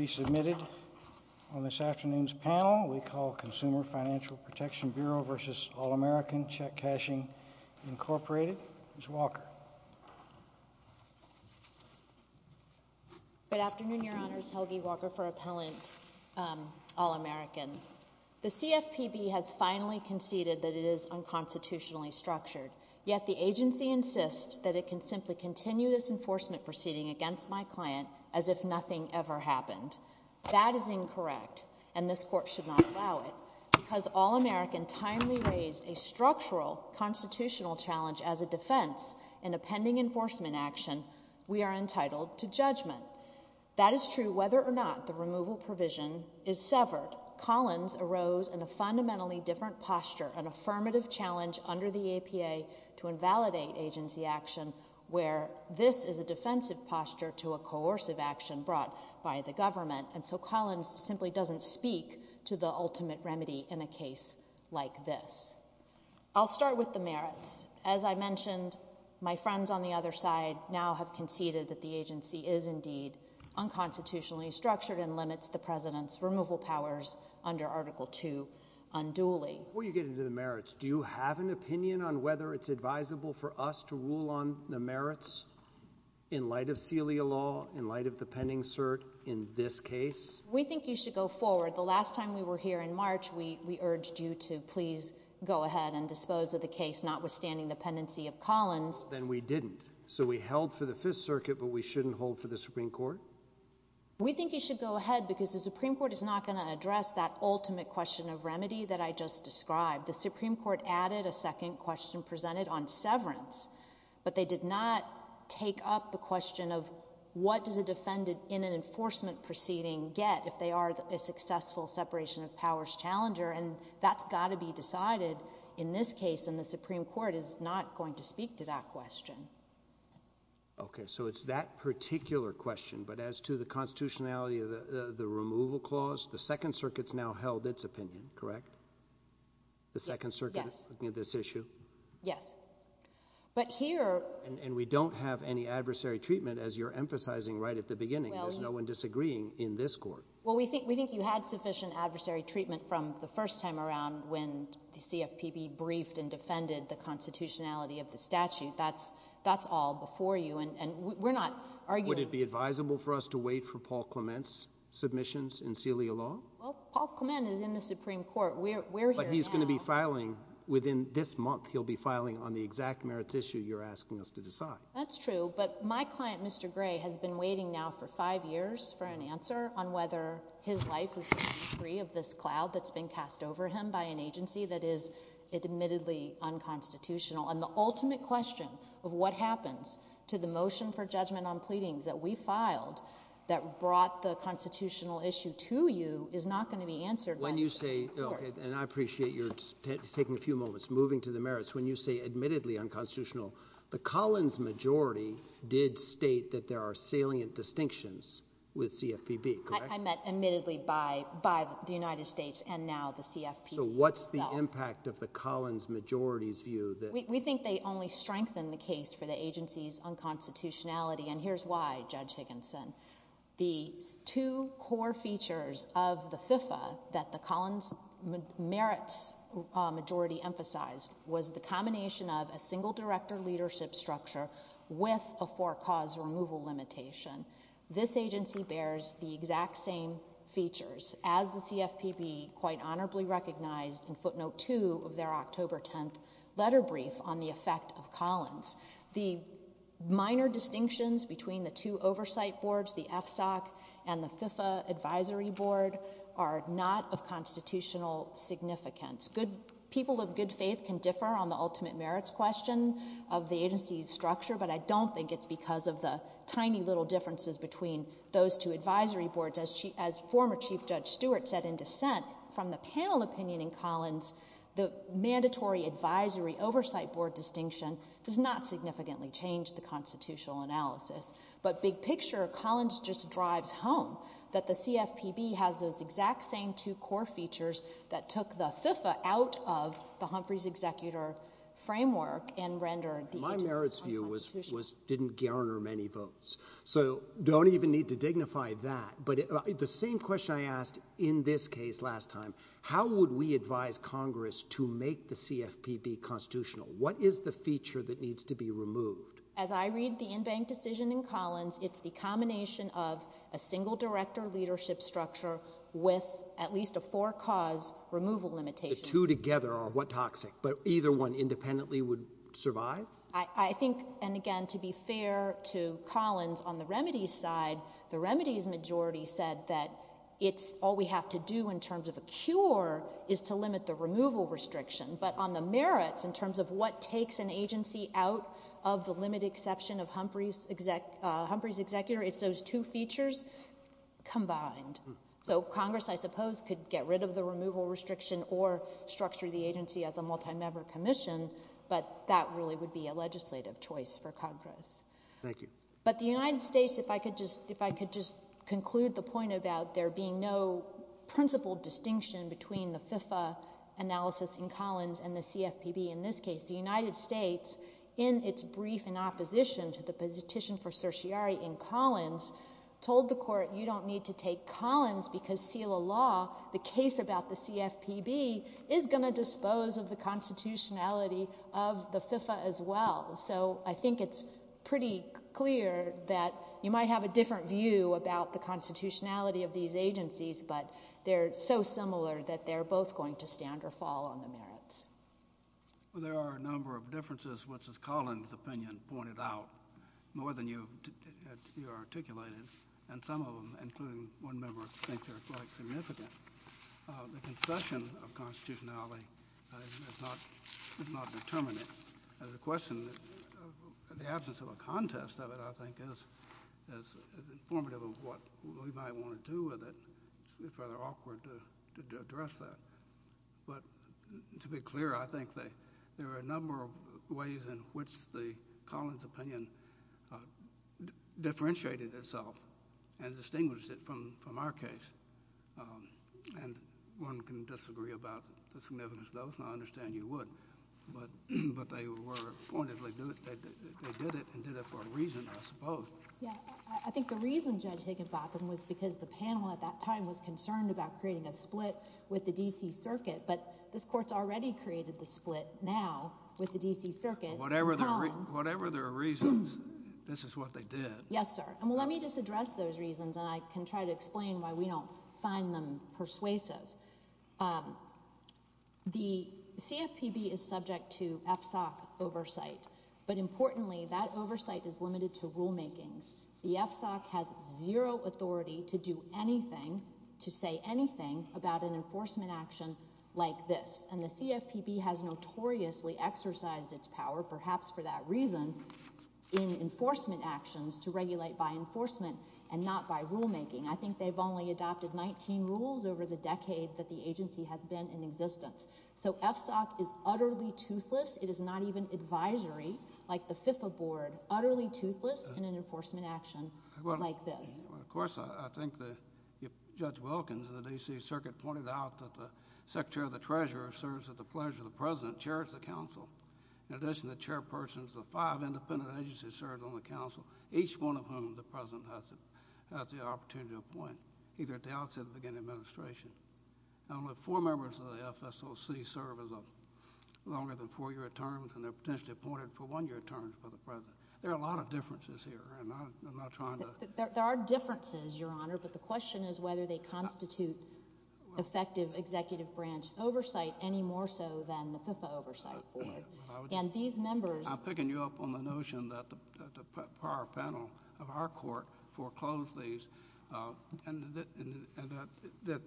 Inc. Ms. Walker. Good afternoon, Your Honors. Helgi Walker for Appellant All American. The CFPB has finally conceded that it is unconstitutionally structured, yet the agency insists that it is not. That is incorrect, and this Court should not allow it. Because All American timely raised a structural constitutional challenge as a defense in a pending enforcement action, we are entitled to judgment. That is true whether or not the removal provision is severed. Collins arose in a fundamentally different posture, an affirmative challenge under the APA to invalidate agency action, where this is a defensive posture to a coercive action brought by the government. And so Collins simply doesn't speak to the ultimate remedy in a case like this. I'll start with the merits. As I mentioned, my friends on the other side now have conceded that the agency is indeed unconstitutionally structured and limits the President's removal powers under Article II unduly. Before you get into the merits, do you have an opinion on whether it's advisable for us to rule on the merits in light of CELIA law, in light of the pending cert in this case? We think you should go forward. The last time we were here in March, we urged you to please go ahead and dispose of the case notwithstanding the pendency of Collins. Then we didn't. So we held for the Fifth Circuit, but we shouldn't hold for the Supreme Court? We think you should go ahead because the Supreme Court is not going to address that ultimate question of remedy that I just described. The Supreme Court added a second question presented on severance, but they did not take up the question of what does a defendant in an enforcement proceeding get if they are a successful separation of powers challenger, and that's got to be decided in this case, and the Supreme Court is not going to speak to that question. Okay. So it's that particular question, but as to the constitutionality of the removal clause, the Second Circuit has now held its opinion, correct? Yes. The Second Circuit is looking at this issue? Yes. But here... And we don't have any adversary treatment, as you're emphasizing right at the beginning. There's no one disagreeing in this court. Well, we think you had sufficient adversary treatment from the first time around when the CFPB briefed and defended the constitutionality of the statute. That's all before you, and we're not arguing... Would it be advisable for us to wait for Paul Clement's submissions in Celia Law? Well, Paul Clement is in the Supreme Court. We're here now. But he's going to be filing, within this month, he'll be filing the exact merits issue you're asking us to decide. That's true, but my client, Mr. Gray, has been waiting now for five years for an answer on whether his life is going to be free of this cloud that's been cast over him by an agency that is admittedly unconstitutional, and the ultimate question of what happens to the motion for judgment on pleadings that we filed that brought the constitutional issue to you is not going to be answered by... When you say, and I appreciate you're taking a few moments, moving to the merits, when you say admittedly unconstitutional, the Collins majority did state that there are salient distinctions with CFPB, correct? I meant admittedly by the United States and now the CFPB itself. So what's the impact of the Collins majority's view that... We think they only strengthen the case for the agency's unconstitutionality, and here's why, Judge Higginson. The two core features of the FIFA that the Collins merits majority emphasized was the combination of a single director leadership structure with a four-cause removal limitation. This agency bears the exact same features as the CFPB quite honorably recognized in footnote two of their October 10th letter brief on the effect of Collins. The minor distinctions between the two oversight boards, the FSOC and the FIFA advisory board, are not of constitutional significance. People of good faith can differ on the ultimate merits question of the agency's structure, but I don't think it's because of the tiny little differences between those two advisory boards. As former Chief Judge Stewart said in dissent from the panel opinion in Collins, the mandatory advisory oversight board distinction does not significantly change the constitutional analysis, but big picture, Collins just drives home that the CFPB has those exact same two core features that took the FIFA out of the Humphreys executor framework and rendered the agency unconstitutional. My merits view was didn't garner many votes, so don't even need to dignify that, but the same question I asked in this case last time, how would we advise Congress to make the CFPB constitutional? What is the feature that needs to be removed? As I read the in-bank decision in Collins, it's the combination of a single director leadership structure with at least a four cause removal limitation. The two together are what toxic, but either one independently would survive? I think, and again to be fair to Collins, on the remedies side, the remedies majority said that it's all we have to do in terms of a cure is to limit the removal restriction, but on the merits in terms of what takes an agency out of the limited exception of Humphreys executor, it's those two features combined. So Congress, I suppose, could get rid of the removal restriction or structure the agency as a multi-member commission, but that really would be a legislative choice for Congress. Thank you. But the United States, if I could just conclude the point about there being no principle distinction between the FIFA analysis in Collins and the CFPB in this case. The United States, in its brief in opposition to the petition for certiorari in Collins, told the court you don't need to take Collins because seal the law. The case about the CFPB is going to dispose of the constitutionality of the FIFA as well. So I think it's pretty clear that you might have a different view about the constitutionality of these agencies, but they're so similar that they're both going to stand or fall on the merits. There are a number of differences, which, as Collins' opinion pointed out, more than you articulated, and some of them, including one member, think they're quite significant. The concession of constitutionality is not determinate. The question, the absence of contest of it, I think, is informative of what we might want to do with it. It's rather awkward to address that. But to be clear, I think there are a number of ways in which the Collins' opinion differentiated itself and distinguished it from our case. And one can disagree about the significance of those, and I understand you would, but they were there for a reason, I suppose. Yeah. I think the reason, Judge Higginbotham, was because the panel at that time was concerned about creating a split with the D.C. Circuit, but this Court's already created the split now with the D.C. Circuit and Collins. Whatever their reasons, this is what they did. Yes, sir. And let me just address those reasons, and I can try to explain why we don't find them persuasive. The CFPB is subject to FSOC oversight, but importantly, that oversight is limited to rulemakings. The FSOC has zero authority to do anything, to say anything about an enforcement action like this. And the CFPB has notoriously exercised its power, perhaps for that reason, in enforcement actions to regulate by enforcement and not by rulemaking. I think they've only adopted 19 rules over the decade that the agency has been in existence. So FSOC is utterly toothless. It is not even advisory, like the FIFA Board. Utterly toothless in an enforcement action like this. Well, of course, I think that Judge Wilkins of the D.C. Circuit pointed out that the Secretary of the Treasurer serves at the pleasure of the President, chairs the Council. In addition, the Chairpersons of the five independent agencies served on the Council, each one of whom the President has the opportunity to appoint, either at the outset or the beginning of the administration. Now, only four members of the FSOC serve as a longer-than-four-year term, and they're potentially appointed for one-year terms by the President. There are a lot of differences here, and I'm not trying to— There are differences, Your Honor, but the question is whether they constitute effective executive branch oversight any more so than the FIFA oversight. And these members— I'm picking you up on the notion that the prior panel of our Court foreclosed these. And that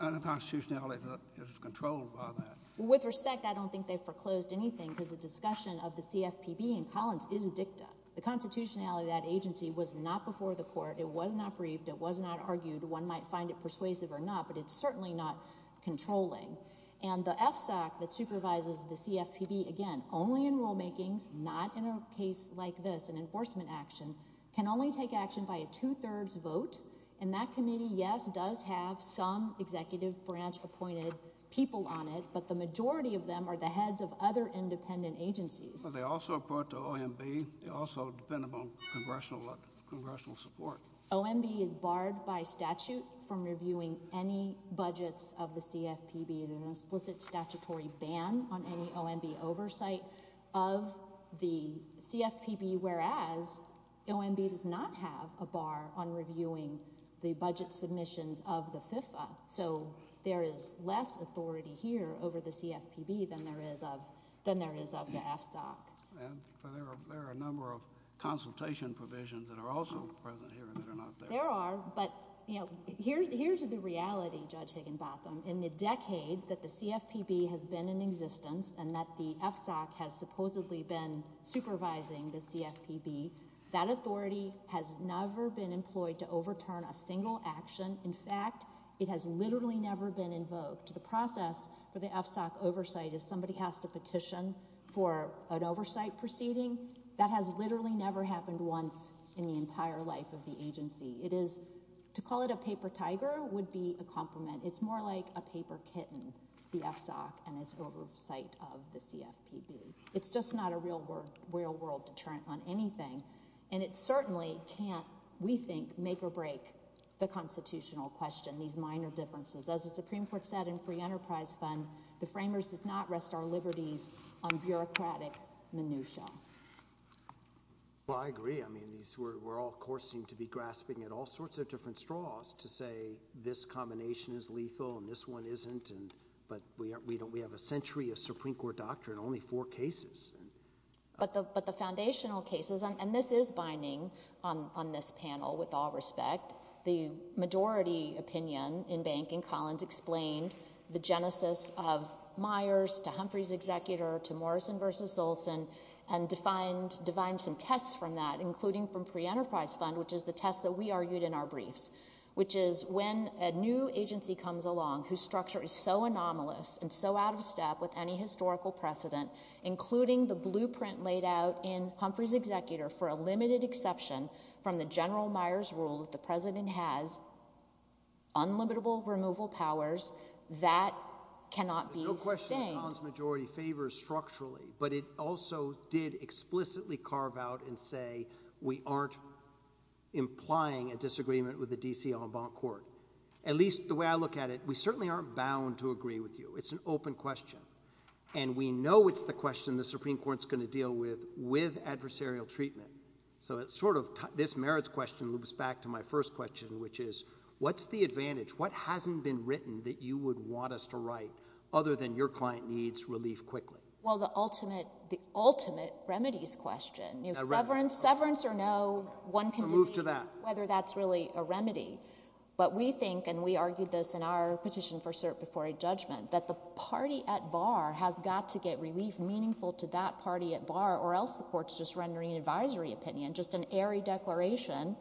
unconstitutionality is controlled by that. With respect, I don't think they foreclosed anything, because the discussion of the CFPB in Collins is dicta. The constitutionality of that agency was not before the Court. It was not briefed. It was not argued. One might find it persuasive or not, but it's certainly not controlling. And the FSOC that supervises the CFPB, again, only in rulemakings, not in a case like this, an enforcement action, can only take action by a two-thirds vote. And that committee, yes, does have some executive branch appointed people on it, but the majority of them are the heads of other independent agencies. But they also report to OMB. They also depend upon congressional support. OMB is barred by statute from reviewing any budgets of the CFPB. There's an explicit statutory ban on any OMB oversight of the CFPB, whereas OMB does not have a bar on reviewing the budget submissions of the FIFA. So there is less authority here over the CFPB than there is of the FSOC. There are a number of consultation provisions that are also present here that are not there. There are, but here's the reality, Judge Higginbotham. In the decade that the CFPB has been in existence and that the FSOC has supposedly been supervising the CFPB, that authority has never been employed to overturn a single action. In fact, it has literally never been invoked. The process for the FSOC oversight is somebody has to petition for an oversight proceeding. That has literally never happened once in the entire life of the agency. It is, to call it a paper tiger would be a compliment. It's more like a paper kitten, the FSOC and its oversight of the CFPB. It's just not a real-world deterrent on anything. And it certainly can't, we think, make or break the constitutional question, these minor differences. As the Supreme Court said in Free Enterprise Fund, the framers did not rest our liberties on bureaucratic minutia. Well, I agree. I mean, we all, of course, seem to be grasping at all sorts of different straws to say this combination is lethal and this one isn't. But we have a century of Supreme Court doctrine, only four cases. But the foundational cases, and this is binding on this panel with all respect, the majority opinion in Bank and Collins explained the genesis of Myers to Humphrey's executor to define some tests from that, including from Free Enterprise Fund, which is the test that we argued in our briefs, which is when a new agency comes along whose structure is so anomalous and so out of step with any historical precedent, including the blueprint laid out in Humphrey's executor for a limited exception from the General Myers rule that the president has unlimited removal powers, that cannot be sustained. The question of Collins majority favors structurally, but it also did explicitly carve out and say we aren't implying a disagreement with the D.C. en banc court. At least the way I look at it, we certainly aren't bound to agree with you. It's an open question. And we know it's the question the Supreme Court's going to deal with, with adversarial treatment. So it's sort of this merits question loops back to my first question, which is what's the advantage? What hasn't been written that you would want us to write other than your client needs relief quickly? Well, the ultimate remedy's question. Severance or no, one can debate whether that's really a remedy. But we think, and we argued this in our petition for cert before a judgment, that the party at bar has got to get relief meaningful to that party at bar or else the court's just rendering an advisory opinion, just an airy declaration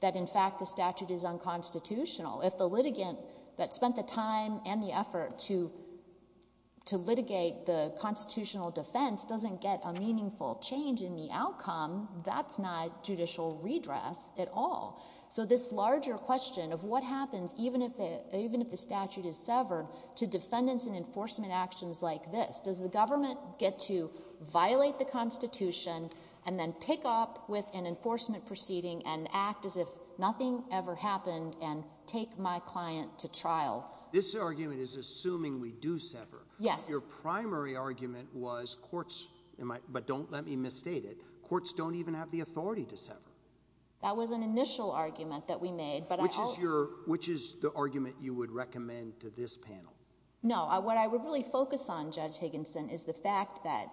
that in fact the If the litigant that spent the time and the effort to litigate the constitutional defense doesn't get a meaningful change in the outcome, that's not judicial redress at all. So this larger question of what happens even if the statute is severed to defendants and enforcement actions like this? Does the government get to violate the Constitution and then pick up with an enforcement proceeding and act as if nothing ever happened and take my client to trial? This argument is assuming we do sever. Yes. Your primary argument was courts, but don't let me misstate it, courts don't even have the authority to sever. That was an initial argument that we made, but I Which is your, which is the argument you would recommend to this panel? No. What I would really focus on, Judge Higginson, is the fact that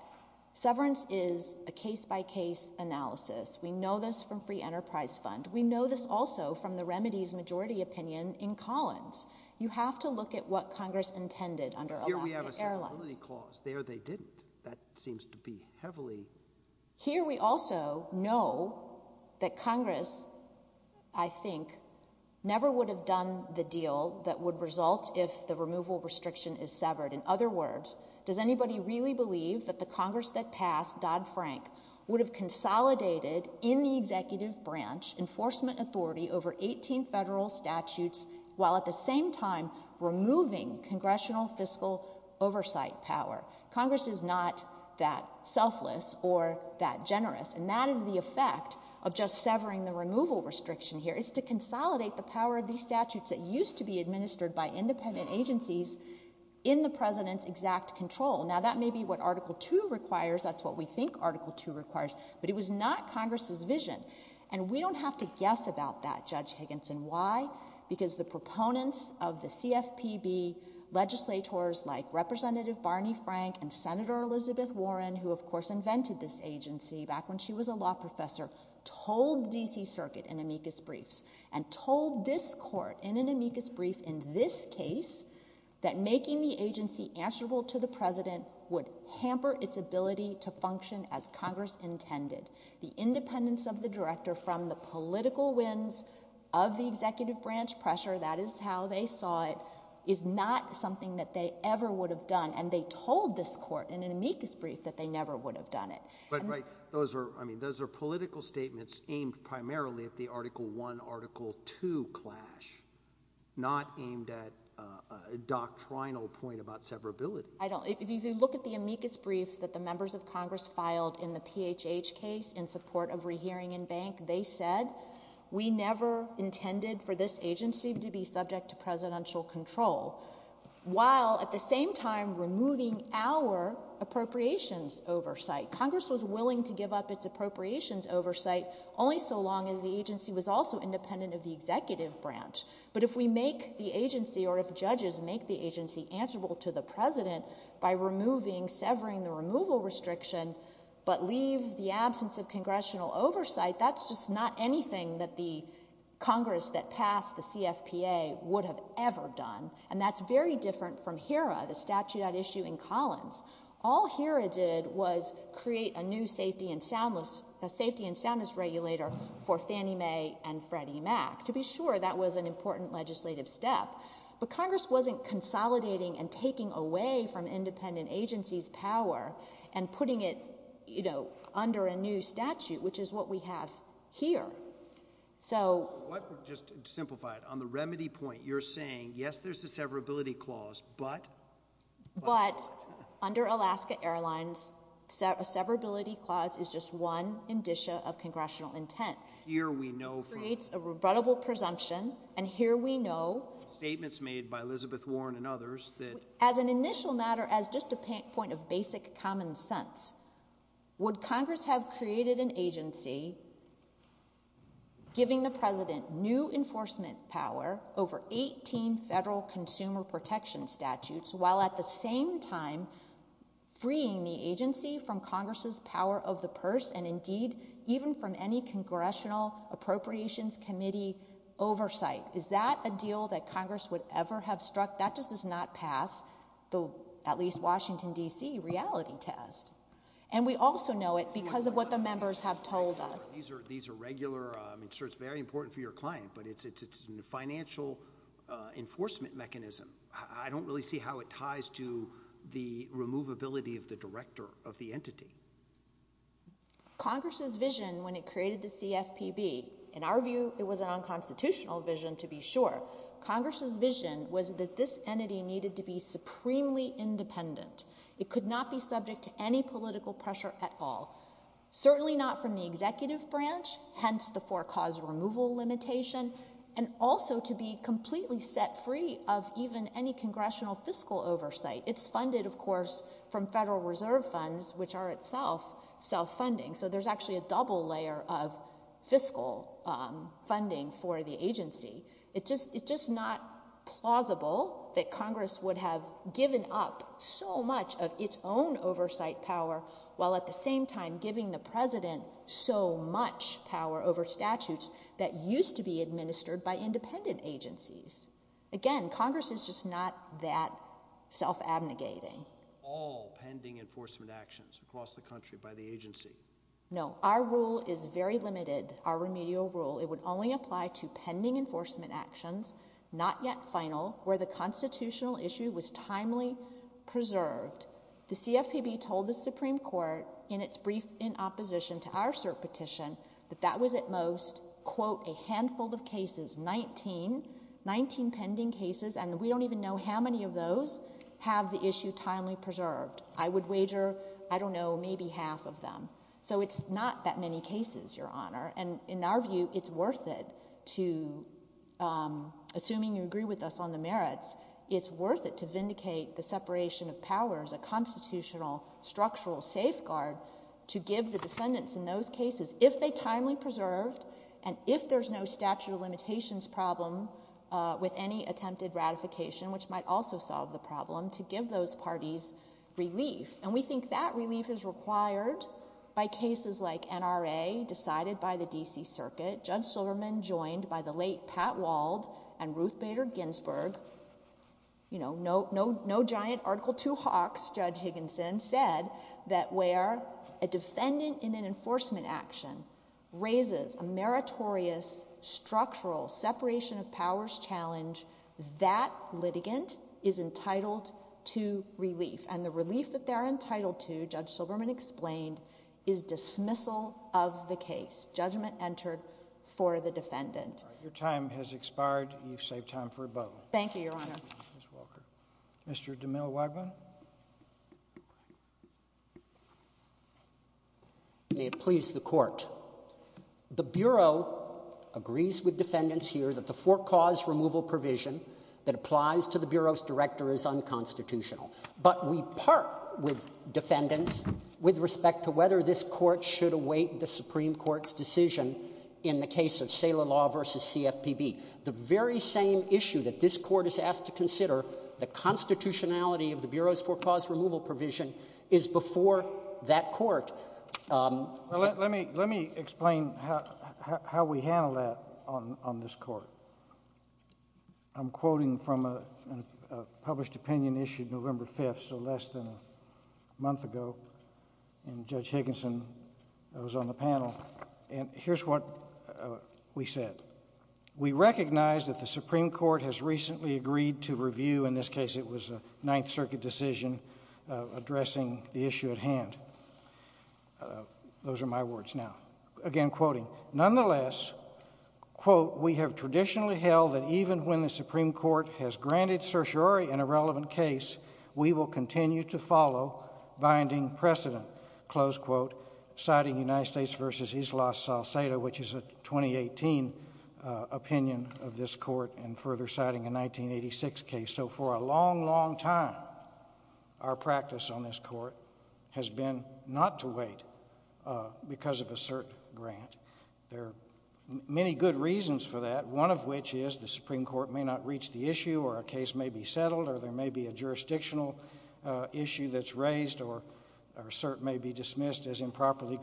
severance is a case-by-case analysis. We know this from Free Enterprise Fund. We know this also from the Remedies Majority Opinion in Collins. You have to look at what Congress intended under Alaska Airlines. Here we have a severability clause. There they didn't. That seems to be heavily Here we also know that Congress, I think, never would have done the deal that would result if the removal restriction is severed. In other words, does anybody really believe that the Congress that passed, Dodd-Frank, would have consolidated in the executive branch enforcement authority over 18 federal statutes while at the same time removing congressional fiscal oversight power? Congress is not that selfless or that generous, and that is the effect of just severing the removal restriction here. It's to consolidate the power of these statutes that used to be administered by independent agencies in the President's exact control. Now, that may be what Article II requires. That's what we think Article II requires, but it was not Congress's vision. And we don't have to guess about that, Judge Higginson. Why? Because the proponents of the CFPB, legislators like Representative Barney Frank and Senator Elizabeth Warren, who, of course, invented this agency back when she was a law professor, told the D.C. Circuit in amicus briefs and told this Court in an amicus brief in this case that making the agency answerable to the President would hamper its ability to function as Congress intended. The independence of the Director from the political winds of the executive branch pressure, that is how they saw it, is not something that they ever would have done, and they told this Court in an amicus brief that they never would have done it. But, right, those are, I mean, those are political statements aimed primarily at the Article I, Article II clash, not aimed at a doctrinal point about severability. I don't, if you look at the amicus brief that the members of Congress filed in the PHH case in support of rehearing in bank, they said we never intended for this agency to be subject to Presidential control, while at the same time removing our appropriations oversight. Congress was willing to give up its appropriations oversight only so long as the agency was also independent of the executive branch. But if we make the agency, or if judges make the agency answerable to the President by removing, severing the removal restriction, but leave the absence of Congressional oversight, that's just not anything that the Congress that passed the CFPA would have ever done, and that's very different from HERA, the statute at issue in Collins. All HERA did was create a new safety and soundness, a safety and soundness regulator for Fannie Mae and Freddie Mac. To be sure, that was an important legislative step. But Congress wasn't consolidating and taking away from independent agencies' power and putting it, you know, under a new statute, which is what we have here. So... Let me just simplify it. On the remedy point, you're saying, yes, there's a severability clause, but... But, under Alaska Airlines, a severability clause is just one indicia of Congressional intent. Here we know from... Creates a rebuttable presumption, and here we know... Statements made by Elizabeth Warren and others that... As an initial matter, as just a point of basic common sense, would Congress have created an agency giving the President new enforcement power over 18 federal consumer protection statutes while, at the same time, freeing the agency from Congress's power of the purse and, indeed, even from any Congressional Appropriations Committee oversight? Is that a deal that Congress would ever have struck? That just does not pass the, at least, Washington, D.C., reality test. And we also know it because of what the members have told us. These are regular... I'm sure it's very important for your client, but it's a financial enforcement mechanism. I don't really see how it ties to the removability of the director of the entity. Congress's vision, when it created the CFPB, in our view, it was a non-constitutional vision, to be sure. Congress's vision was that this pressure at all. Certainly not from the executive branch, hence the four-cause removal limitation, and also to be completely set free of even any Congressional fiscal oversight. It's funded, of course, from Federal Reserve funds, which are itself self-funding. So there's actually a double layer of fiscal funding for the agency. It's just not plausible that Congress would have given up so much of its own oversight power, while at the same time giving the President so much power over statutes that used to be administered by independent agencies. Again, Congress is just not that self-abnegating. All pending enforcement actions across the country by the agency. No. Our rule is very limited, our remedial rule. It would only apply to pending enforcement actions, not yet final, where the constitutional issue was timely preserved. The CFPB told the Supreme Court, in its brief in opposition to our cert petition, that that was at most, quote, a handful of cases, 19, 19 pending cases, and we don't even know how many of those have the issue timely preserved. I would wager, I don't know, maybe half of them. So it's not that many cases, Your Honor, and in our view, it's worth it to, assuming you agree with us on the merits, it's worth it to vindicate the separation of powers, a constitutional structural safeguard, to give the defendants in those cases, if they're timely preserved, and if there's no statute of limitations problem with any attempted ratification, which might also solve the problem, to give those parties relief. And we think that relief is required by cases like NRA, decided by the D.C. Circuit, Judge Silverman joined by the late Pat Wald and Ruth Bader Ginsburg, you know, no giant Article II hawks, Judge Higginson said, that where a defendant in an enforcement action raises a meritorious structural separation of powers challenge, that litigant is entitled to relief. And the relief that they're entitled to, Judge Silverman explained, is dismissal of the case. Judgment entered for the defendant. Your time has expired. You've saved time for a vote. Thank you, Your Honor. Mr. DeMille-Wagman. May it please the Court. The Bureau agrees with defendants here that the for-cause removal provision that applies to the Bureau's director is unconstitutional. But we part with defendants with respect to whether this Court should await the Supreme Court's decision in the case of SALA law versus CFPB. The very same issue that this Court is asked to consider, the constitutionality of the Bureau's for-cause removal provision, is before that Court. Well, let me explain how we handle that on this Court. I'm quoting from a published opinion issued November 5th, so less than a month ago, and Judge Higginson was on the panel. And here's what we said. We recognize that the Supreme Court has recently agreed to review, in this case it was a Ninth Circuit decision, addressing the issue at hand. Those are my words now. Again, quoting, nonetheless, quote, we have traditionally held that even when the Supreme Court has granted certiorari in a relevant case, we will continue to follow binding precedent, close quote, citing United States v. Isla Salcedo, which is a 2018 opinion of this Court and further citing a 1986 case. So for a long, long time, our practice on this Court has been not to wait because of a cert grant. There are many good reasons for that, one of which is the Supreme Court may not reach the issue or a case may be settled or there may be a jurisdictional issue that's raised or a cert may be dismissed as improperly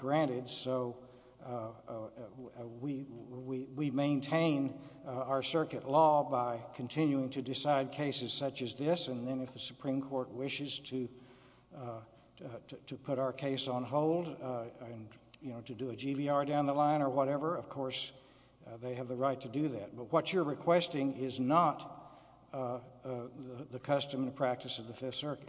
our circuit law by continuing to decide cases such as this and then if the Supreme Court wishes to put our case on hold and, you know, to do a GVR down the line or whatever, of course, they have the right to do that. But what you're requesting is not the custom and practice of the Fifth Circuit.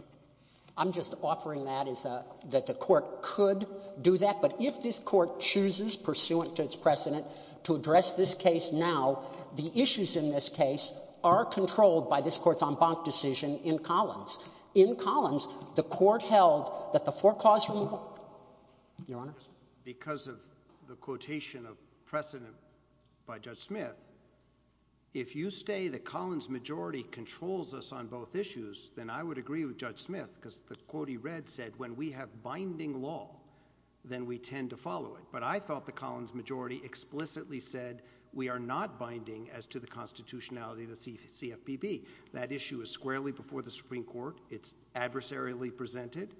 I'm just offering that as a, that the Court could do that, but if this Court chooses pursuant to its precedent to address this case now, the issues in this case are controlled by this Court's en banc decision in Collins. In Collins, the Court held that the forecast from the Court, Your Honor? Because of the quotation of precedent by Judge Smith, if you say the Collins majority controls us on both issues, then I would agree with Judge Smith because the quote he read said when we have binding law, then we tend to follow it. But I thought the Collins majority explicitly said we are not binding as to the constitutionality of the CFPB. That issue is squarely before the Supreme Court. It's adversarially presented.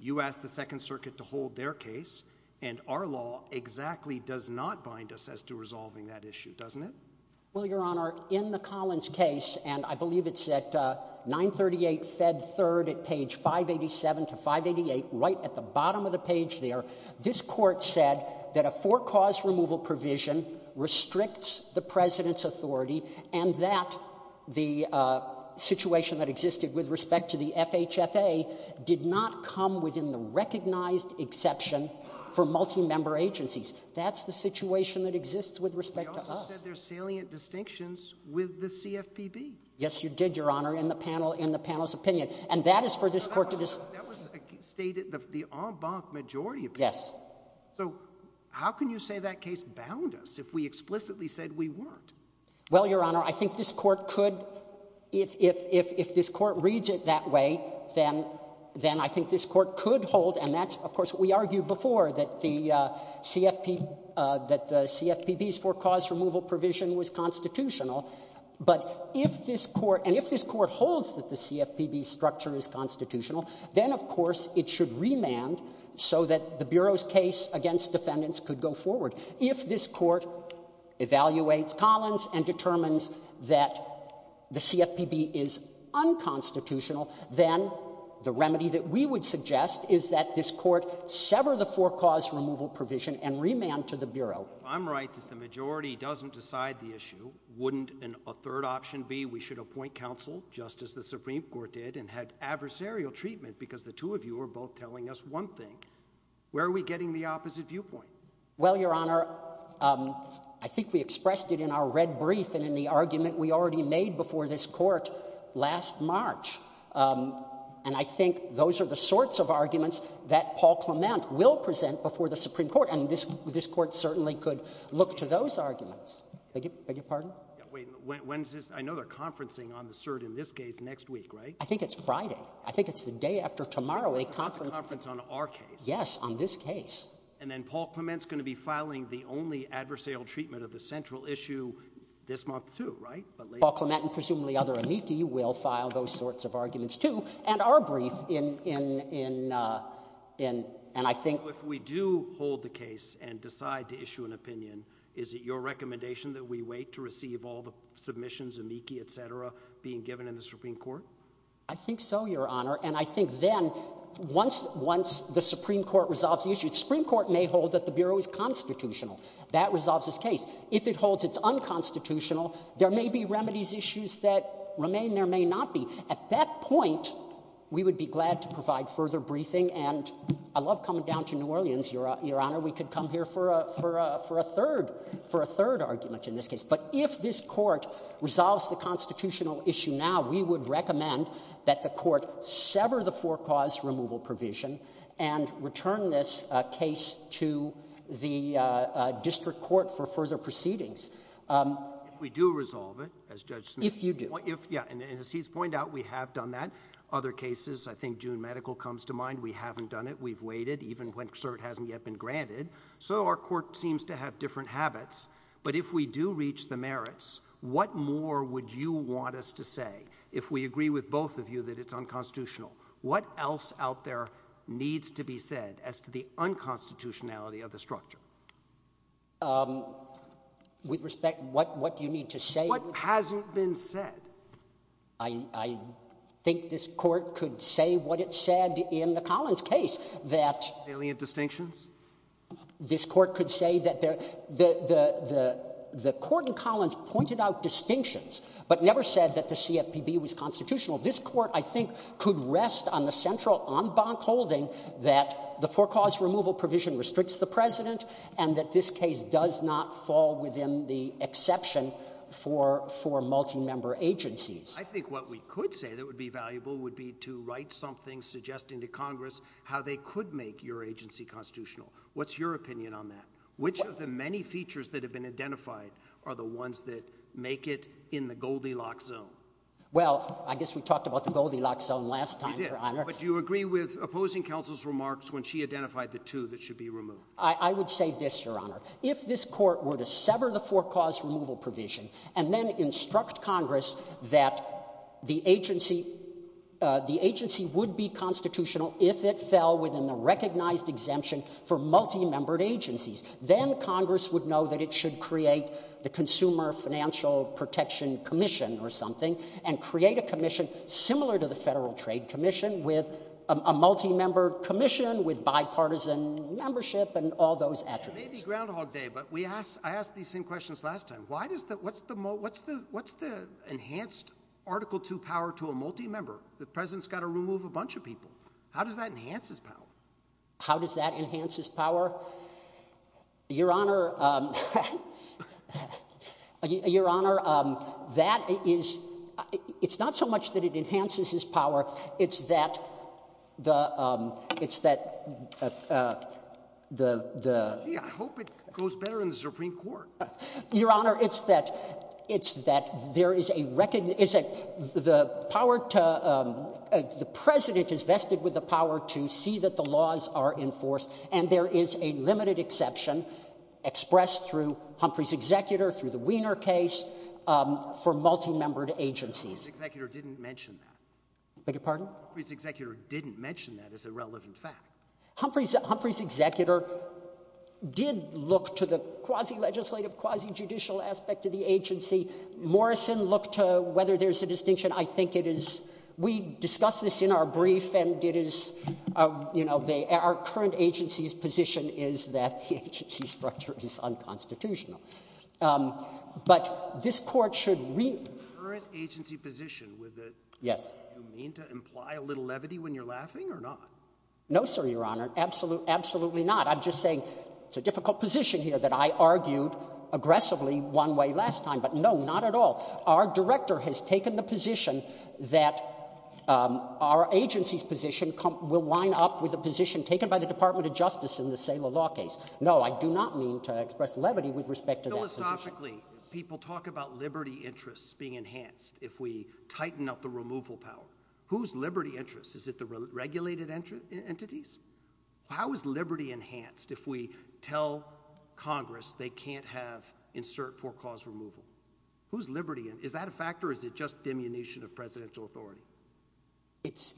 You asked the Second Circuit to hold their case, and our law exactly does not bind us as to resolving that issue, doesn't it? Well, Your Honor, in the Collins case, and I believe it's at 938 Fed 3rd at page 587 to 588, right at the bottom of the page there, this Court said that a four-cause removal provision restricts the President's authority and that the situation that existed with respect to the FHFA did not come within the recognized exception for multimember agencies. That's the situation that exists with respect to us. They also said there are salient distinctions with the CFPB. Yes, you did, Your Honor, in the panel's opinion. And that is for this Court to decide. That was stated, the en banc majority opinion. Yes. So how can you say that case bound us if we explicitly said we weren't? Well, Your Honor, I think this Court could, if this Court reads it that way, then I think this Court could hold, and that's, of course, what we argued before, that the CFPB's four-cause removal provision was constitutional. But if this Court, and if this Court holds that the CFPB's structure is constitutional, then, of course, it should remand so that the Bureau's case against defendants could go forward. If this Court evaluates Collins and determines that the CFPB is unconstitutional, then the remedy that we would suggest is that this Court sever the four-cause removal provision and remand to the Bureau. I'm right that the majority doesn't decide the issue. Wouldn't a third option be we should appoint counsel, just as the Supreme Court did, and had adversarial treatment because the two of you are both telling us one thing? Where are we getting the opposite viewpoint? Well, Your Honor, I think we expressed it in our red brief and in the argument we already made before this Court last March. And I think those are the sorts of arguments that Paul Clement will present before the Supreme Court. And this Court certainly could look to those arguments. Beg your pardon? Wait. When is this? I know they're conferencing on the cert in this case next week, right? I think it's Friday. I think it's the day after tomorrow, a conference. A conference on our case. Yes, on this case. And then Paul Clement's going to be filing the only adversarial treatment of the central issue this month, too, right? But later. Paul Clement and presumably other amici will file those sorts of arguments, too, and our brief in — in — in — and I think — So if we do hold the case and decide to issue an opinion, is it your recommendation that we wait to receive all the submissions, amici, etc., being given in the Supreme Court? I think so, Your Honor. And I think then, once — once the Supreme Court resolves the issue — the Supreme Court may hold that the Bureau is constitutional. That resolves this case. If it holds it's unconstitutional, there may be remedies issues that remain. There may not be. At that point, we would be glad to provide further briefing. And I love coming down to New Orleans, Your Honor. We could come here for a — for a — for a third — for a third argument in this case. But if this Court resolves the constitutional issue now, we would recommend that the Court sever the for-cause removal provision and return this case to the district court for further proceedings. If we do resolve it, as Judge Smith — If you do. If — yeah. And as he's pointed out, we have done that. Other cases, I think June Medical comes to mind, we haven't done it. We've waited, even when cert hasn't yet been granted. So our court seems to have different habits. But if we do reach the merits, what more would you want us to say, if we agree with both of you that it's unconstitutional? What else out there needs to be said as to the unconstitutionality of the structure? With respect, what — what do you need to say? What hasn't been said. I — I think this Court could say what it said in the Collins case, that — This Court could say that there — the — the — the court in Collins pointed out distinctions, but never said that the CFPB was constitutional. This Court, I think, could rest on the central en banc holding that the for-cause removal provision restricts the President and that this case does not fall within the exception for — for multimember agencies. I think what we could say that would be valuable would be to write something suggesting to Congress how they could make your agency constitutional. What's your opinion on that? Which of the many features that have been identified are the ones that make it in the Goldilocks zone? Well, I guess we talked about the Goldilocks zone last time, Your Honor. But do you agree with opposing counsel's remarks when she identified the two that should be removed? I — I would say this, Your Honor. If this Court were to sever the for-cause removal provision and then instruct Congress that the agency — the agency would be constitutional if it fell within the recognized exemption for multimembered agencies, then Congress would know that it should create the Consumer Financial Protection Commission or something and create a commission similar to the Federal Trade Commission with a — a multimember commission with bipartisan membership and all those attributes. It may be Groundhog Day, but we asked — I asked these same questions last time. Why does the — what's the — what's the enhanced Article 2 power to a multimember? The president's got to remove a bunch of people. How does that enhance his power? How does that enhance his power? Your Honor — Your Honor, that is — it's not so much that it enhances his power. It's that the — it's that the — the — Yeah, I hope it goes better in the Supreme Court. Your Honor, it's that — it's that there is a — the power to — the president is vested with the power to see that the laws are enforced, and there is a limited exception expressed through Humphrey's executor, through the Wiener case, for multimembered agencies. Humphrey's executor didn't mention that. Beg your pardon? Humphrey's executor didn't mention that as a relevant fact. Humphrey's — Humphrey's executor did look to the quasi-legislative, quasi-judicial aspect of the agency. Morrison looked to whether there's a distinction. I think it is — we discussed this in our brief, and it is — you know, they — our current agency's position is that the agency structure is unconstitutional. But this Court should — Current agency position with the — Yes. Do you mean to imply a little levity when you're laughing, or not? No, sir, Your Honor. Absolutely not. I'm just saying it's a difficult position here that I argued aggressively one way last time. But no, not at all. Our director has taken the position that our agency's position will line up with the position taken by the Department of Justice in the Saylor law case. No, I do not mean to express levity with respect to that position. Logically, people talk about liberty interests being enhanced if we tighten up the removal power. Whose liberty interests? Is it the regulated entities? How is liberty enhanced if we tell Congress they can't have insert for cause removal? Whose liberty — is that a factor, or is it just diminution of presidential authority? It's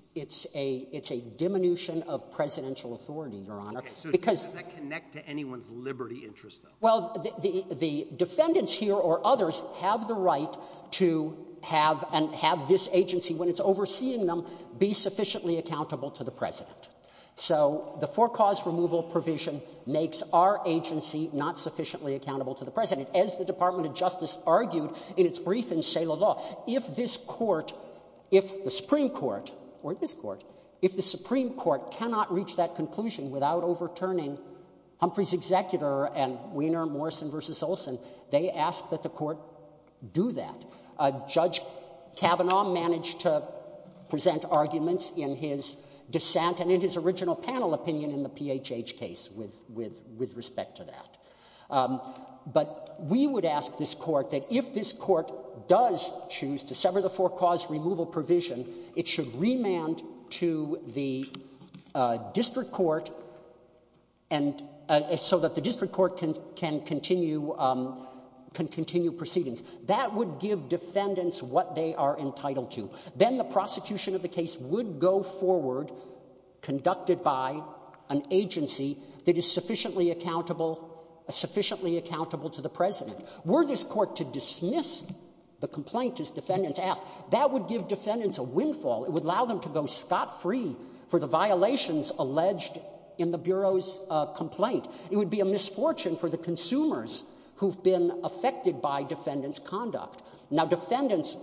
a — it's a diminution of presidential authority, Your Honor, because — Okay, so does that connect to anyone's liberty interests, though? Well, the defendants here, or others, have the right to have — and have this agency, when it's overseeing them, be sufficiently accountable to the president. So the for cause removal provision makes our agency not sufficiently accountable to the president. As the Department of Justice argued in its briefing, Saylor law, if this court — if the Supreme Court — or this court — if the Supreme Court cannot reach that conclusion without overturning Humphrey's executor and Weiner, Morrison v. Olson, they ask that the court do that. Judge Kavanaugh managed to present arguments in his dissent and in his original panel opinion in the PHH case with respect to that. But we would ask this court that if this court does choose to sever the for cause removal provision, it should remand to the district court and — so that the district court can continue — can continue proceedings. That would give defendants what they are entitled to. Then the prosecution of the case would go forward, conducted by an agency that is sufficiently accountable — sufficiently accountable to the president. Were this court to dismiss the complaint, as defendants asked, that would give defendants a windfall. It would allow them to go scot-free for the violations alleged in the Bureau's complaint. It would be a misfortune for the consumers who've been affected by defendants' conduct. Now defendants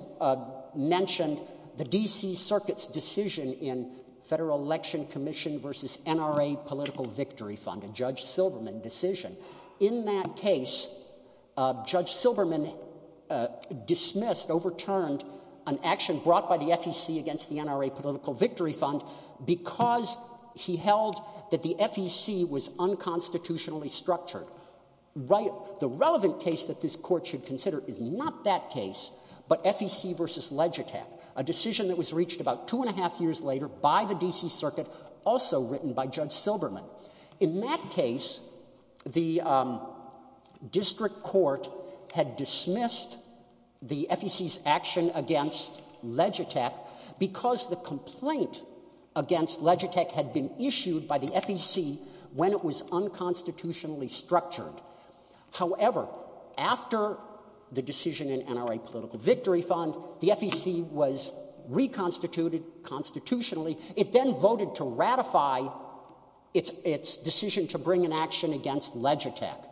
mentioned the D.C. Circuit's decision in Federal Election Commission v. NRA Political Victory Fund, a Judge Silberman decision. In that case, Judge Silberman dismissed, overturned an action brought by the FEC against the NRA Political Victory Fund because he held that the FEC was unconstitutionally structured. Right — the relevant case that this court should consider is not that case, but FEC v. Legitech, a decision that was reached about two and a half years later by the D.C. Circuit, also written by Judge Silberman. In that case, the district court had dismissed the FEC's action against Legitech because the complaint against Legitech had been issued by the FEC when it was unconstitutionally structured. However, after the decision in NRA Political Victory Fund, the FEC was reconstituted constitutionally. It then voted to ratify its decision to bring an action against Legitech.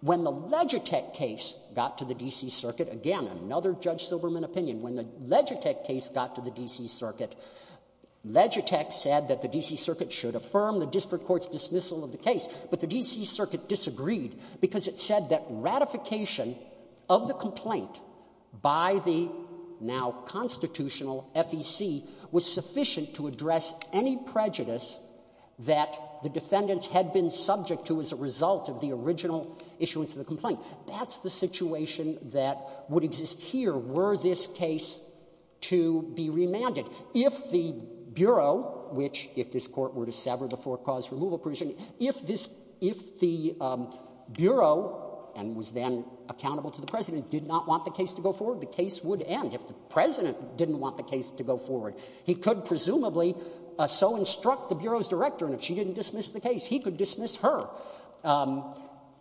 When the Legitech case got to the D.C. Circuit — again, another Judge Silberman opinion — when the Legitech case got to the D.C. Circuit, Legitech said that the D.C. Circuit should affirm the district court's dismissal of the case. But the D.C. Circuit disagreed because it said that ratification of the complaint by the now constitutional FEC was sufficient to address any prejudice that the defendants had been subject to as a result of the original case. Now, if the D.C. Circuit did not want the case to be remanded, if the Bureau, which — if this Court were to sever the four-cause removal provision — if this — if the Bureau — and was then accountable to the President — did not want the case to go forward, the case would end. If the President didn't want the case to go forward, he could presumably so instruct the Bureau's director, and if she didn't dismiss the case, he could dismiss her.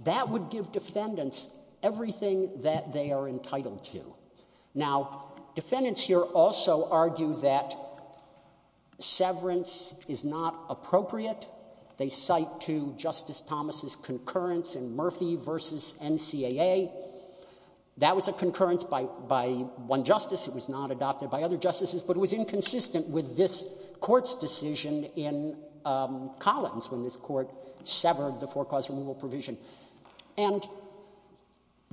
That would give defendants everything that they are entitled to. Now, defendants here also argue that severance is not appropriate. They cite to Justice Thomas's concurrence in Murphy v. NCAA. That was a concurrence by one justice. It was not adopted by other justices. But it was inconsistent with this Court's decision in Collins when this Court severed the four-cause removal provision. And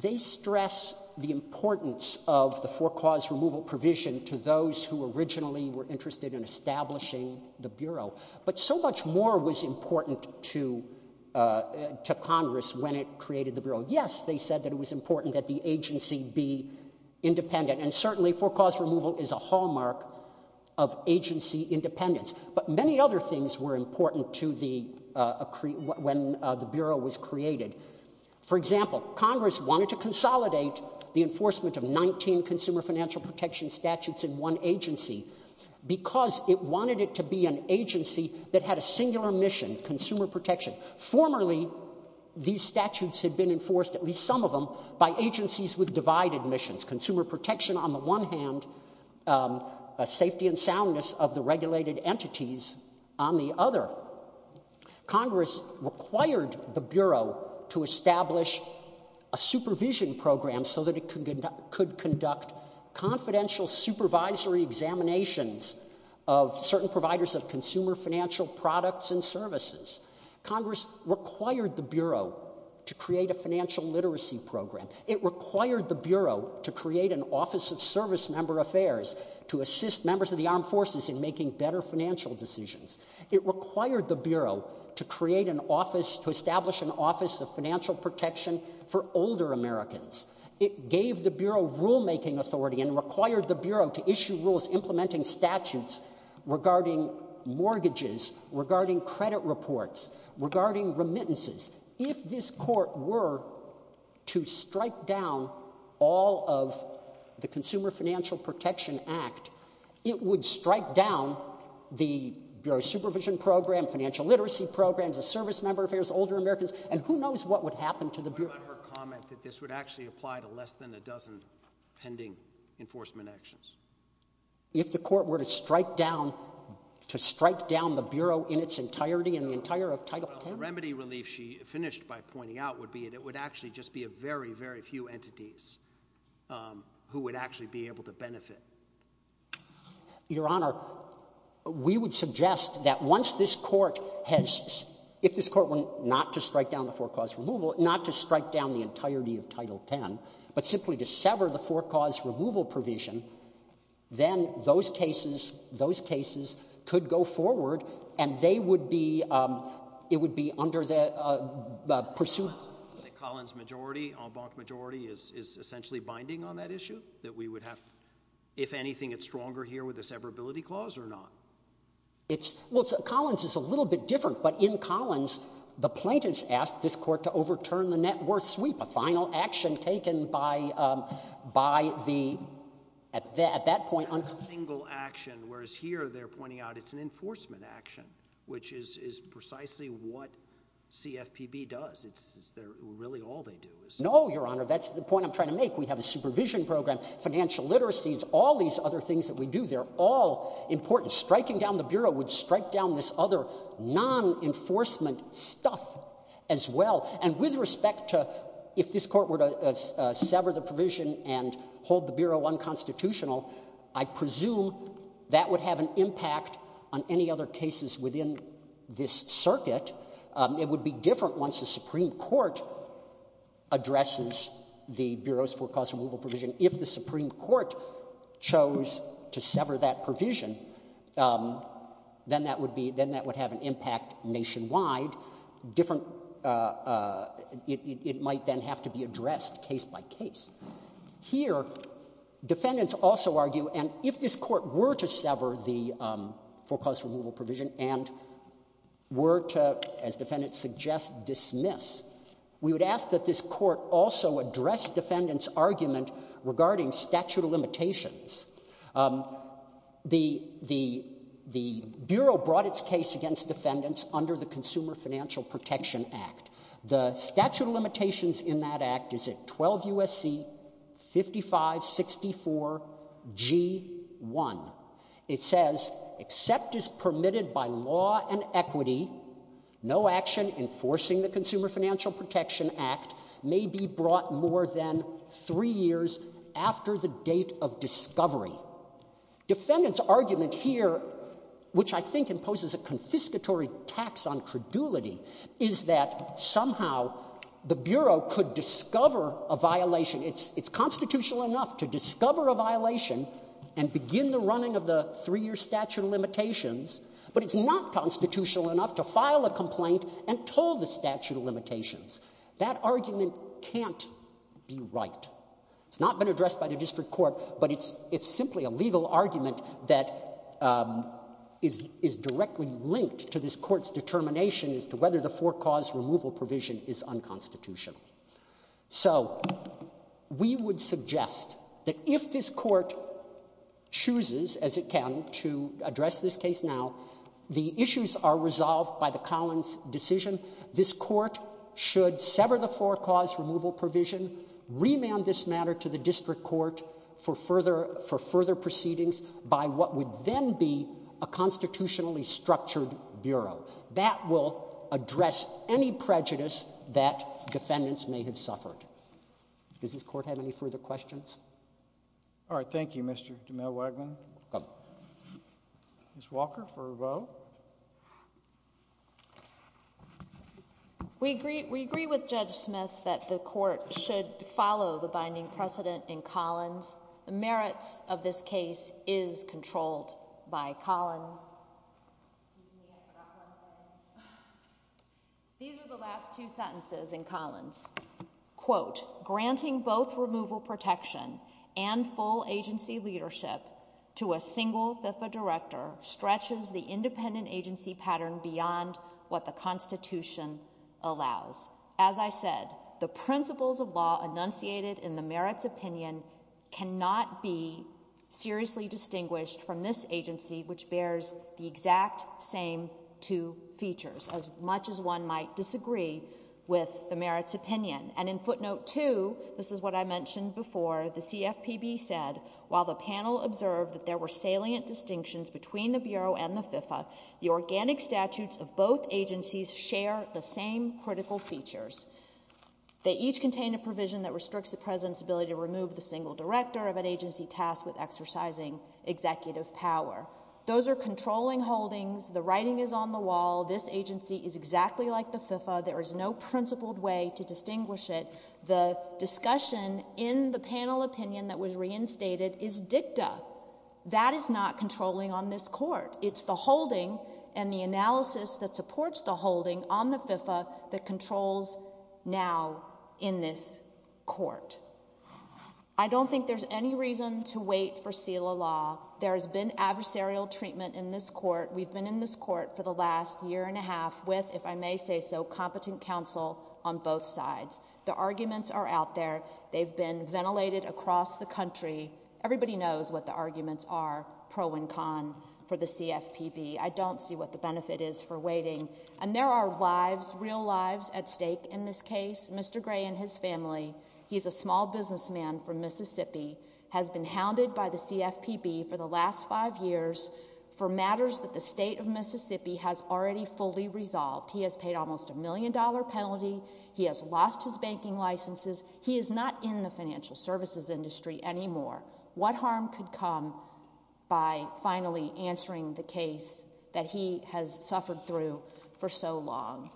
they stress the importance of the four-cause removal provision to those who originally were interested in establishing the Bureau. But so much more was important to Congress when it created the Bureau. Yes, they said that it was important that the agency be independent, and certainly four-cause removal is a hallmark of agency independence. But many other things were important to the, when the Bureau was created. For example, Congress wanted to consolidate the enforcement of 19 consumer financial protection statutes in one agency because it wanted it to be an agency that had a singular mission, consumer protection. Formerly, these statutes had been enforced, at least some of them, by agencies with divided missions. Consumer protection on the one hand, safety and soundness of the regulated entities on the other. Congress required the Bureau to establish a supervision program so that it could conduct confidential supervisory examinations of certain providers of consumer financial products and services. Congress required the Bureau to create a financial literacy program. It required the Bureau to create an Office of Service Member Affairs to assist members of the armed forces in making better financial decisions. It required the Bureau to create an office, to establish an Office of Financial Protection for older Americans. It gave the Bureau rulemaking authority and required the Bureau to issue rules implementing statutes regarding mortgages, regarding credit reports, regarding remittances. If this court were to strike down all of the Consumer Financial Protection Act, it would strike down the Bureau's supervision program, financial literacy programs, the service member affairs, older Americans, and who knows what would happen to the Bureau. What about her comment that this would actually apply to less than a dozen pending enforcement actions? If the court were to strike down, to strike down the Bureau in its entirety, in the entire of Title 10? The remedy relief she finished by pointing out would be that it would actually just be a very, very few entities who would actually be able to benefit. Your Honor, we would suggest that once this court has, if this court were not to strike down the forecaused removal, not to strike down the entirety of Title 10, but simply to sever the forecaused removal provision, then those cases, those cases could go forward and they would be, it would be under the pursuance. The Collins majority, en banc majority, is essentially binding on that issue, that we would have, if anything, it's stronger here with the severability clause or not? It's, well, Collins is a little bit different, but in Collins, the plaintiffs asked this court to overturn the net worth sweep, a final action taken by, by the, at that, at that point, on Congress here, they're pointing out it's an enforcement action, which is, is precisely what CFPB does. It's, it's, they're, really all they do is. No, Your Honor, that's the point I'm trying to make. We have a supervision program, financial literacies, all these other things that we do, they're all important. Striking down the Bureau would strike down this other non-enforcement stuff as well. And with respect to, if this court were to, uh, uh, sever the provision and hold the Bureau unconstitutional, I presume that would have an impact on any other cases within this circuit. Um, it would be different once the Supreme Court addresses the Bureau's forecast removal provision. If the Supreme Court chose to sever that provision, um, then that would be, then that would have an impact nationwide, different, uh, uh, it, it, it might then have to be addressed case by case. Here, defendants also argue, and if this court were to sever the, um, forecast removal provision and were to, as defendants suggest, dismiss, we would ask that this court also address defendants' argument regarding statute of limitations. Um, the, the, the Bureau brought its case against defendants under the Consumer Financial Protection Act. The statute of limitations in that act is at 12 U.S.C. 5564 G. 1. It says, except as permitted by law and equity, no action enforcing the Consumer Financial Protection Act may be brought more than three years after the date of discovery. Defendants' argument here, which I think imposes a confiscatory tax on credulity, is that somehow the Bureau could discover a violation. It's, it's constitutional enough to discover a violation and begin the running of the three year statute of limitations, but it's not constitutional enough to file a complaint and toll the statute of limitations. That argument can't be right. It's not been addressed by the district court, but it's, it's simply a legal argument that, um, is, is directly linked to this court's determination as to whether the forecast removal provision is unconstitutional. So we would suggest that if this court chooses, as it can, to address this case now, the issues are resolved by the Collins decision. This court should sever the forecast removal provision, remand this matter to the district court for further, for further proceedings by what would then be a constitutionally structured Bureau. That will address any prejudice that defendants may have suffered. Does this court have any further questions? All right. Thank you, Mr. DeMille-Waggman. You're welcome. Ms. Walker for a vote. We agree, we agree with Judge Smith that the court should follow the binding precedent in Collins. The merits of this case is controlled by Collins. These are the last two sentences in Collins, quote, granting both removal protection and full agency leadership to a single FIFA director stretches the independent agency pattern beyond what the constitution allows. As I said, the principles of law enunciated in the merits opinion cannot be seriously distinguished from this agency, which bears the exact same two features, as much as one might disagree with the merits opinion. And in footnote two, this is what I mentioned before, the CFPB said, while the panel observed that there were salient distinctions between the Bureau and the FIFA, the organic statutes of both agencies share the same critical features. They each contain a provision that restricts the president's ability to remove the single director of an agency tasked with exercising executive power. Those are controlling holdings. The writing is on the wall. This agency is exactly like the FIFA. There is no principled way to distinguish it. The discussion in the panel opinion that was reinstated is dicta. That is not controlling on this court. It's the holding and the analysis that supports the holding on the FIFA that controls now in this court. I don't think there's any reason to wait for SELA law. There has been adversarial treatment in this court. We've been in this court for the last year and a half with, if I may say so, competent counsel on both sides. The arguments are out there. They've been ventilated across the country. Everybody knows what the arguments are, pro and con, for the CFPB. I don't see what the benefit is for waiting. And there are lives, real lives at stake in this case, Mr. Gray and his family. He's a small businessman from Mississippi, has been hounded by the CFPB for the last five years for matters that the state of Mississippi has already fully resolved. He has paid almost a million-dollar penalty. He has lost his banking licenses. He is not in the financial services industry anymore. What harm could come by finally answering the case that he has suffered through for so long?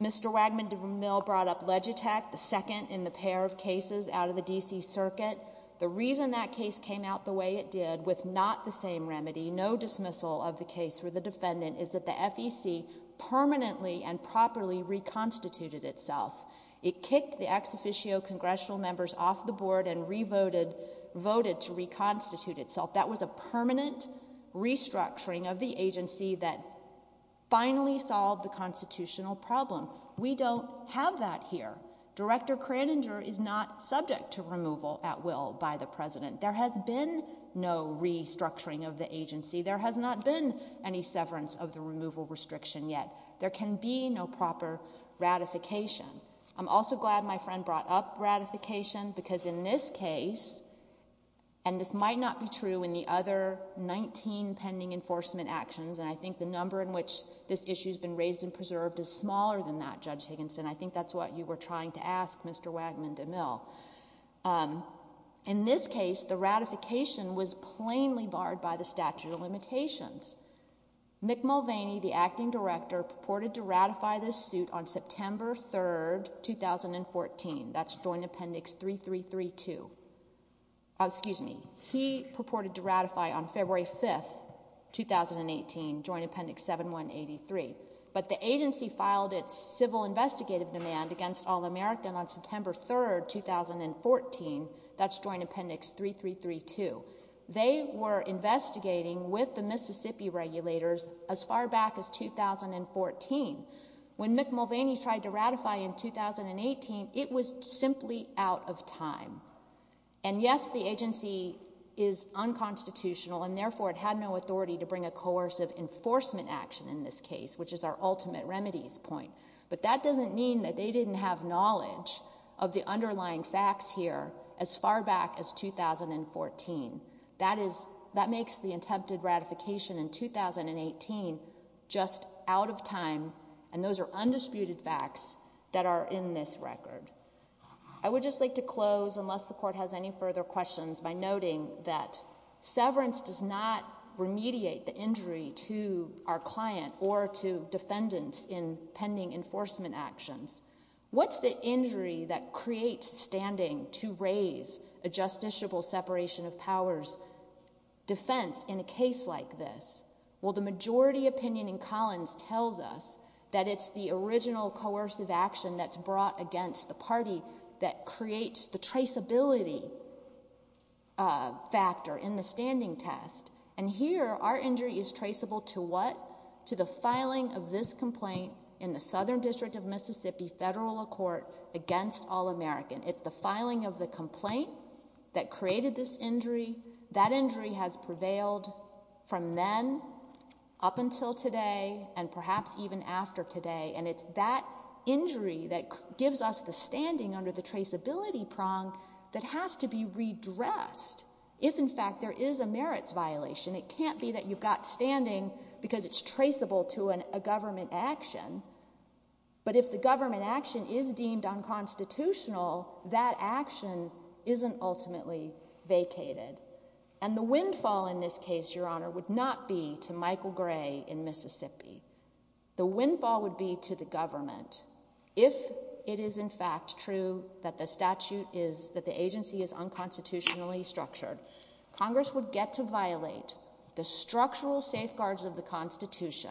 Mr. Wagman-DeMille brought up Legitech, the second in the pair of cases out of the D.C. Circuit. The reason that case came out the way it did, with not the same remedy, no dismissal of the case for the defendant, is that the FEC permanently and properly reconstituted itself. It kicked the ex-officio congressional members off the board and re-voted to reconstitute itself. That was a permanent restructuring of the agency that finally solved the constitutional problem. We don't have that here. Director Kraninger is not subject to removal at will by the president. There has been no restructuring of the agency. There has not been any severance of the removal restriction yet. There can be no proper ratification. I'm also glad my friend brought up ratification because in this case, and this might not be true in the other 19 pending enforcement actions, and I think the number in which this issue has been raised and preserved is smaller than that, Judge Higginson. I think that's what you were trying to ask, Mr. Wagman-DeMille. In this case, the ratification was plainly barred by the statute of limitations. Mick Mulvaney, the acting director, purported to ratify this suit on September 3, 2014. That's Joint Appendix 3332. Excuse me. He purported to ratify on February 5, 2018, Joint Appendix 7183, but the agency filed its civil investigative demand against All-American on September 3, 2014. That's Joint Appendix 3332. They were investigating with the Mississippi regulators as far back as 2014. When Mick Mulvaney tried to ratify in 2018, it was simply out of time. And yes, the agency is unconstitutional, and therefore, it had no authority to bring a coercive enforcement action in this case, which is our ultimate remedies point. But that doesn't mean that they didn't have knowledge of the underlying facts here as far back as 2014. That makes the attempted ratification in 2018 just out of time, and those are undisputed facts that are in this record. I would just like to close, unless the Court has any further questions, by noting that severance does not remediate the injury to our client or to defendants in pending enforcement actions. What's the injury that creates standing to raise a justiciable separation of powers defense in a case like this? Well, the majority opinion in Collins tells us that it's the original coercive action that's brought against the party that creates the traceability factor in the standing test. And here, our injury is traceable to what? To the filing of this complaint in the Southern District of Mississippi federal court against All-American. It's the filing of the complaint that created this injury. That injury has prevailed from then up until today, and perhaps even after today, and it's that injury that gives us the standing under the traceability prong that has to be redressed if in fact there is a merits violation. It can't be that you've got standing because it's traceable to a government action. But if the government action is deemed unconstitutional, that action isn't ultimately vacated. And the windfall in this case, Your Honor, would not be to Michael Gray in Mississippi. The windfall would be to the government. If it is in fact true that the statute is, that the agency is unconstitutionally structured, Congress would get to violate the structural safeguards of the Constitution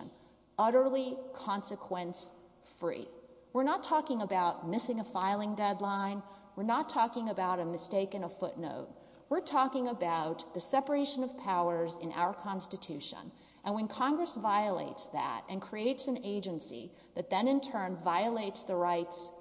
utterly consequence-free. We're not talking about missing a filing deadline. We're not talking about a mistake in a footnote. We're talking about the separation of powers in our Constitution. And when Congress violates that and creates an agency that then in turn violates the rights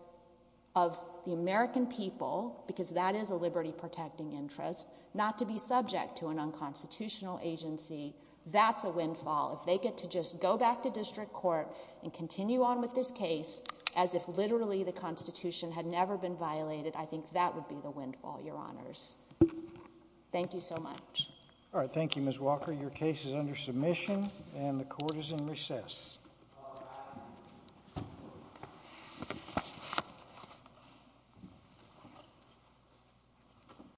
of the American people, because that is a liberty-protecting interest, not to be subject to an unconstitutional agency, that's a windfall. If they get to just go back to district court and continue on with this case as if literally the Constitution had never been violated, I think that would be the windfall, Your Honors. Thank you so much. All right, thank you, Ms. Walker. Your case is under submission and the court is in recess.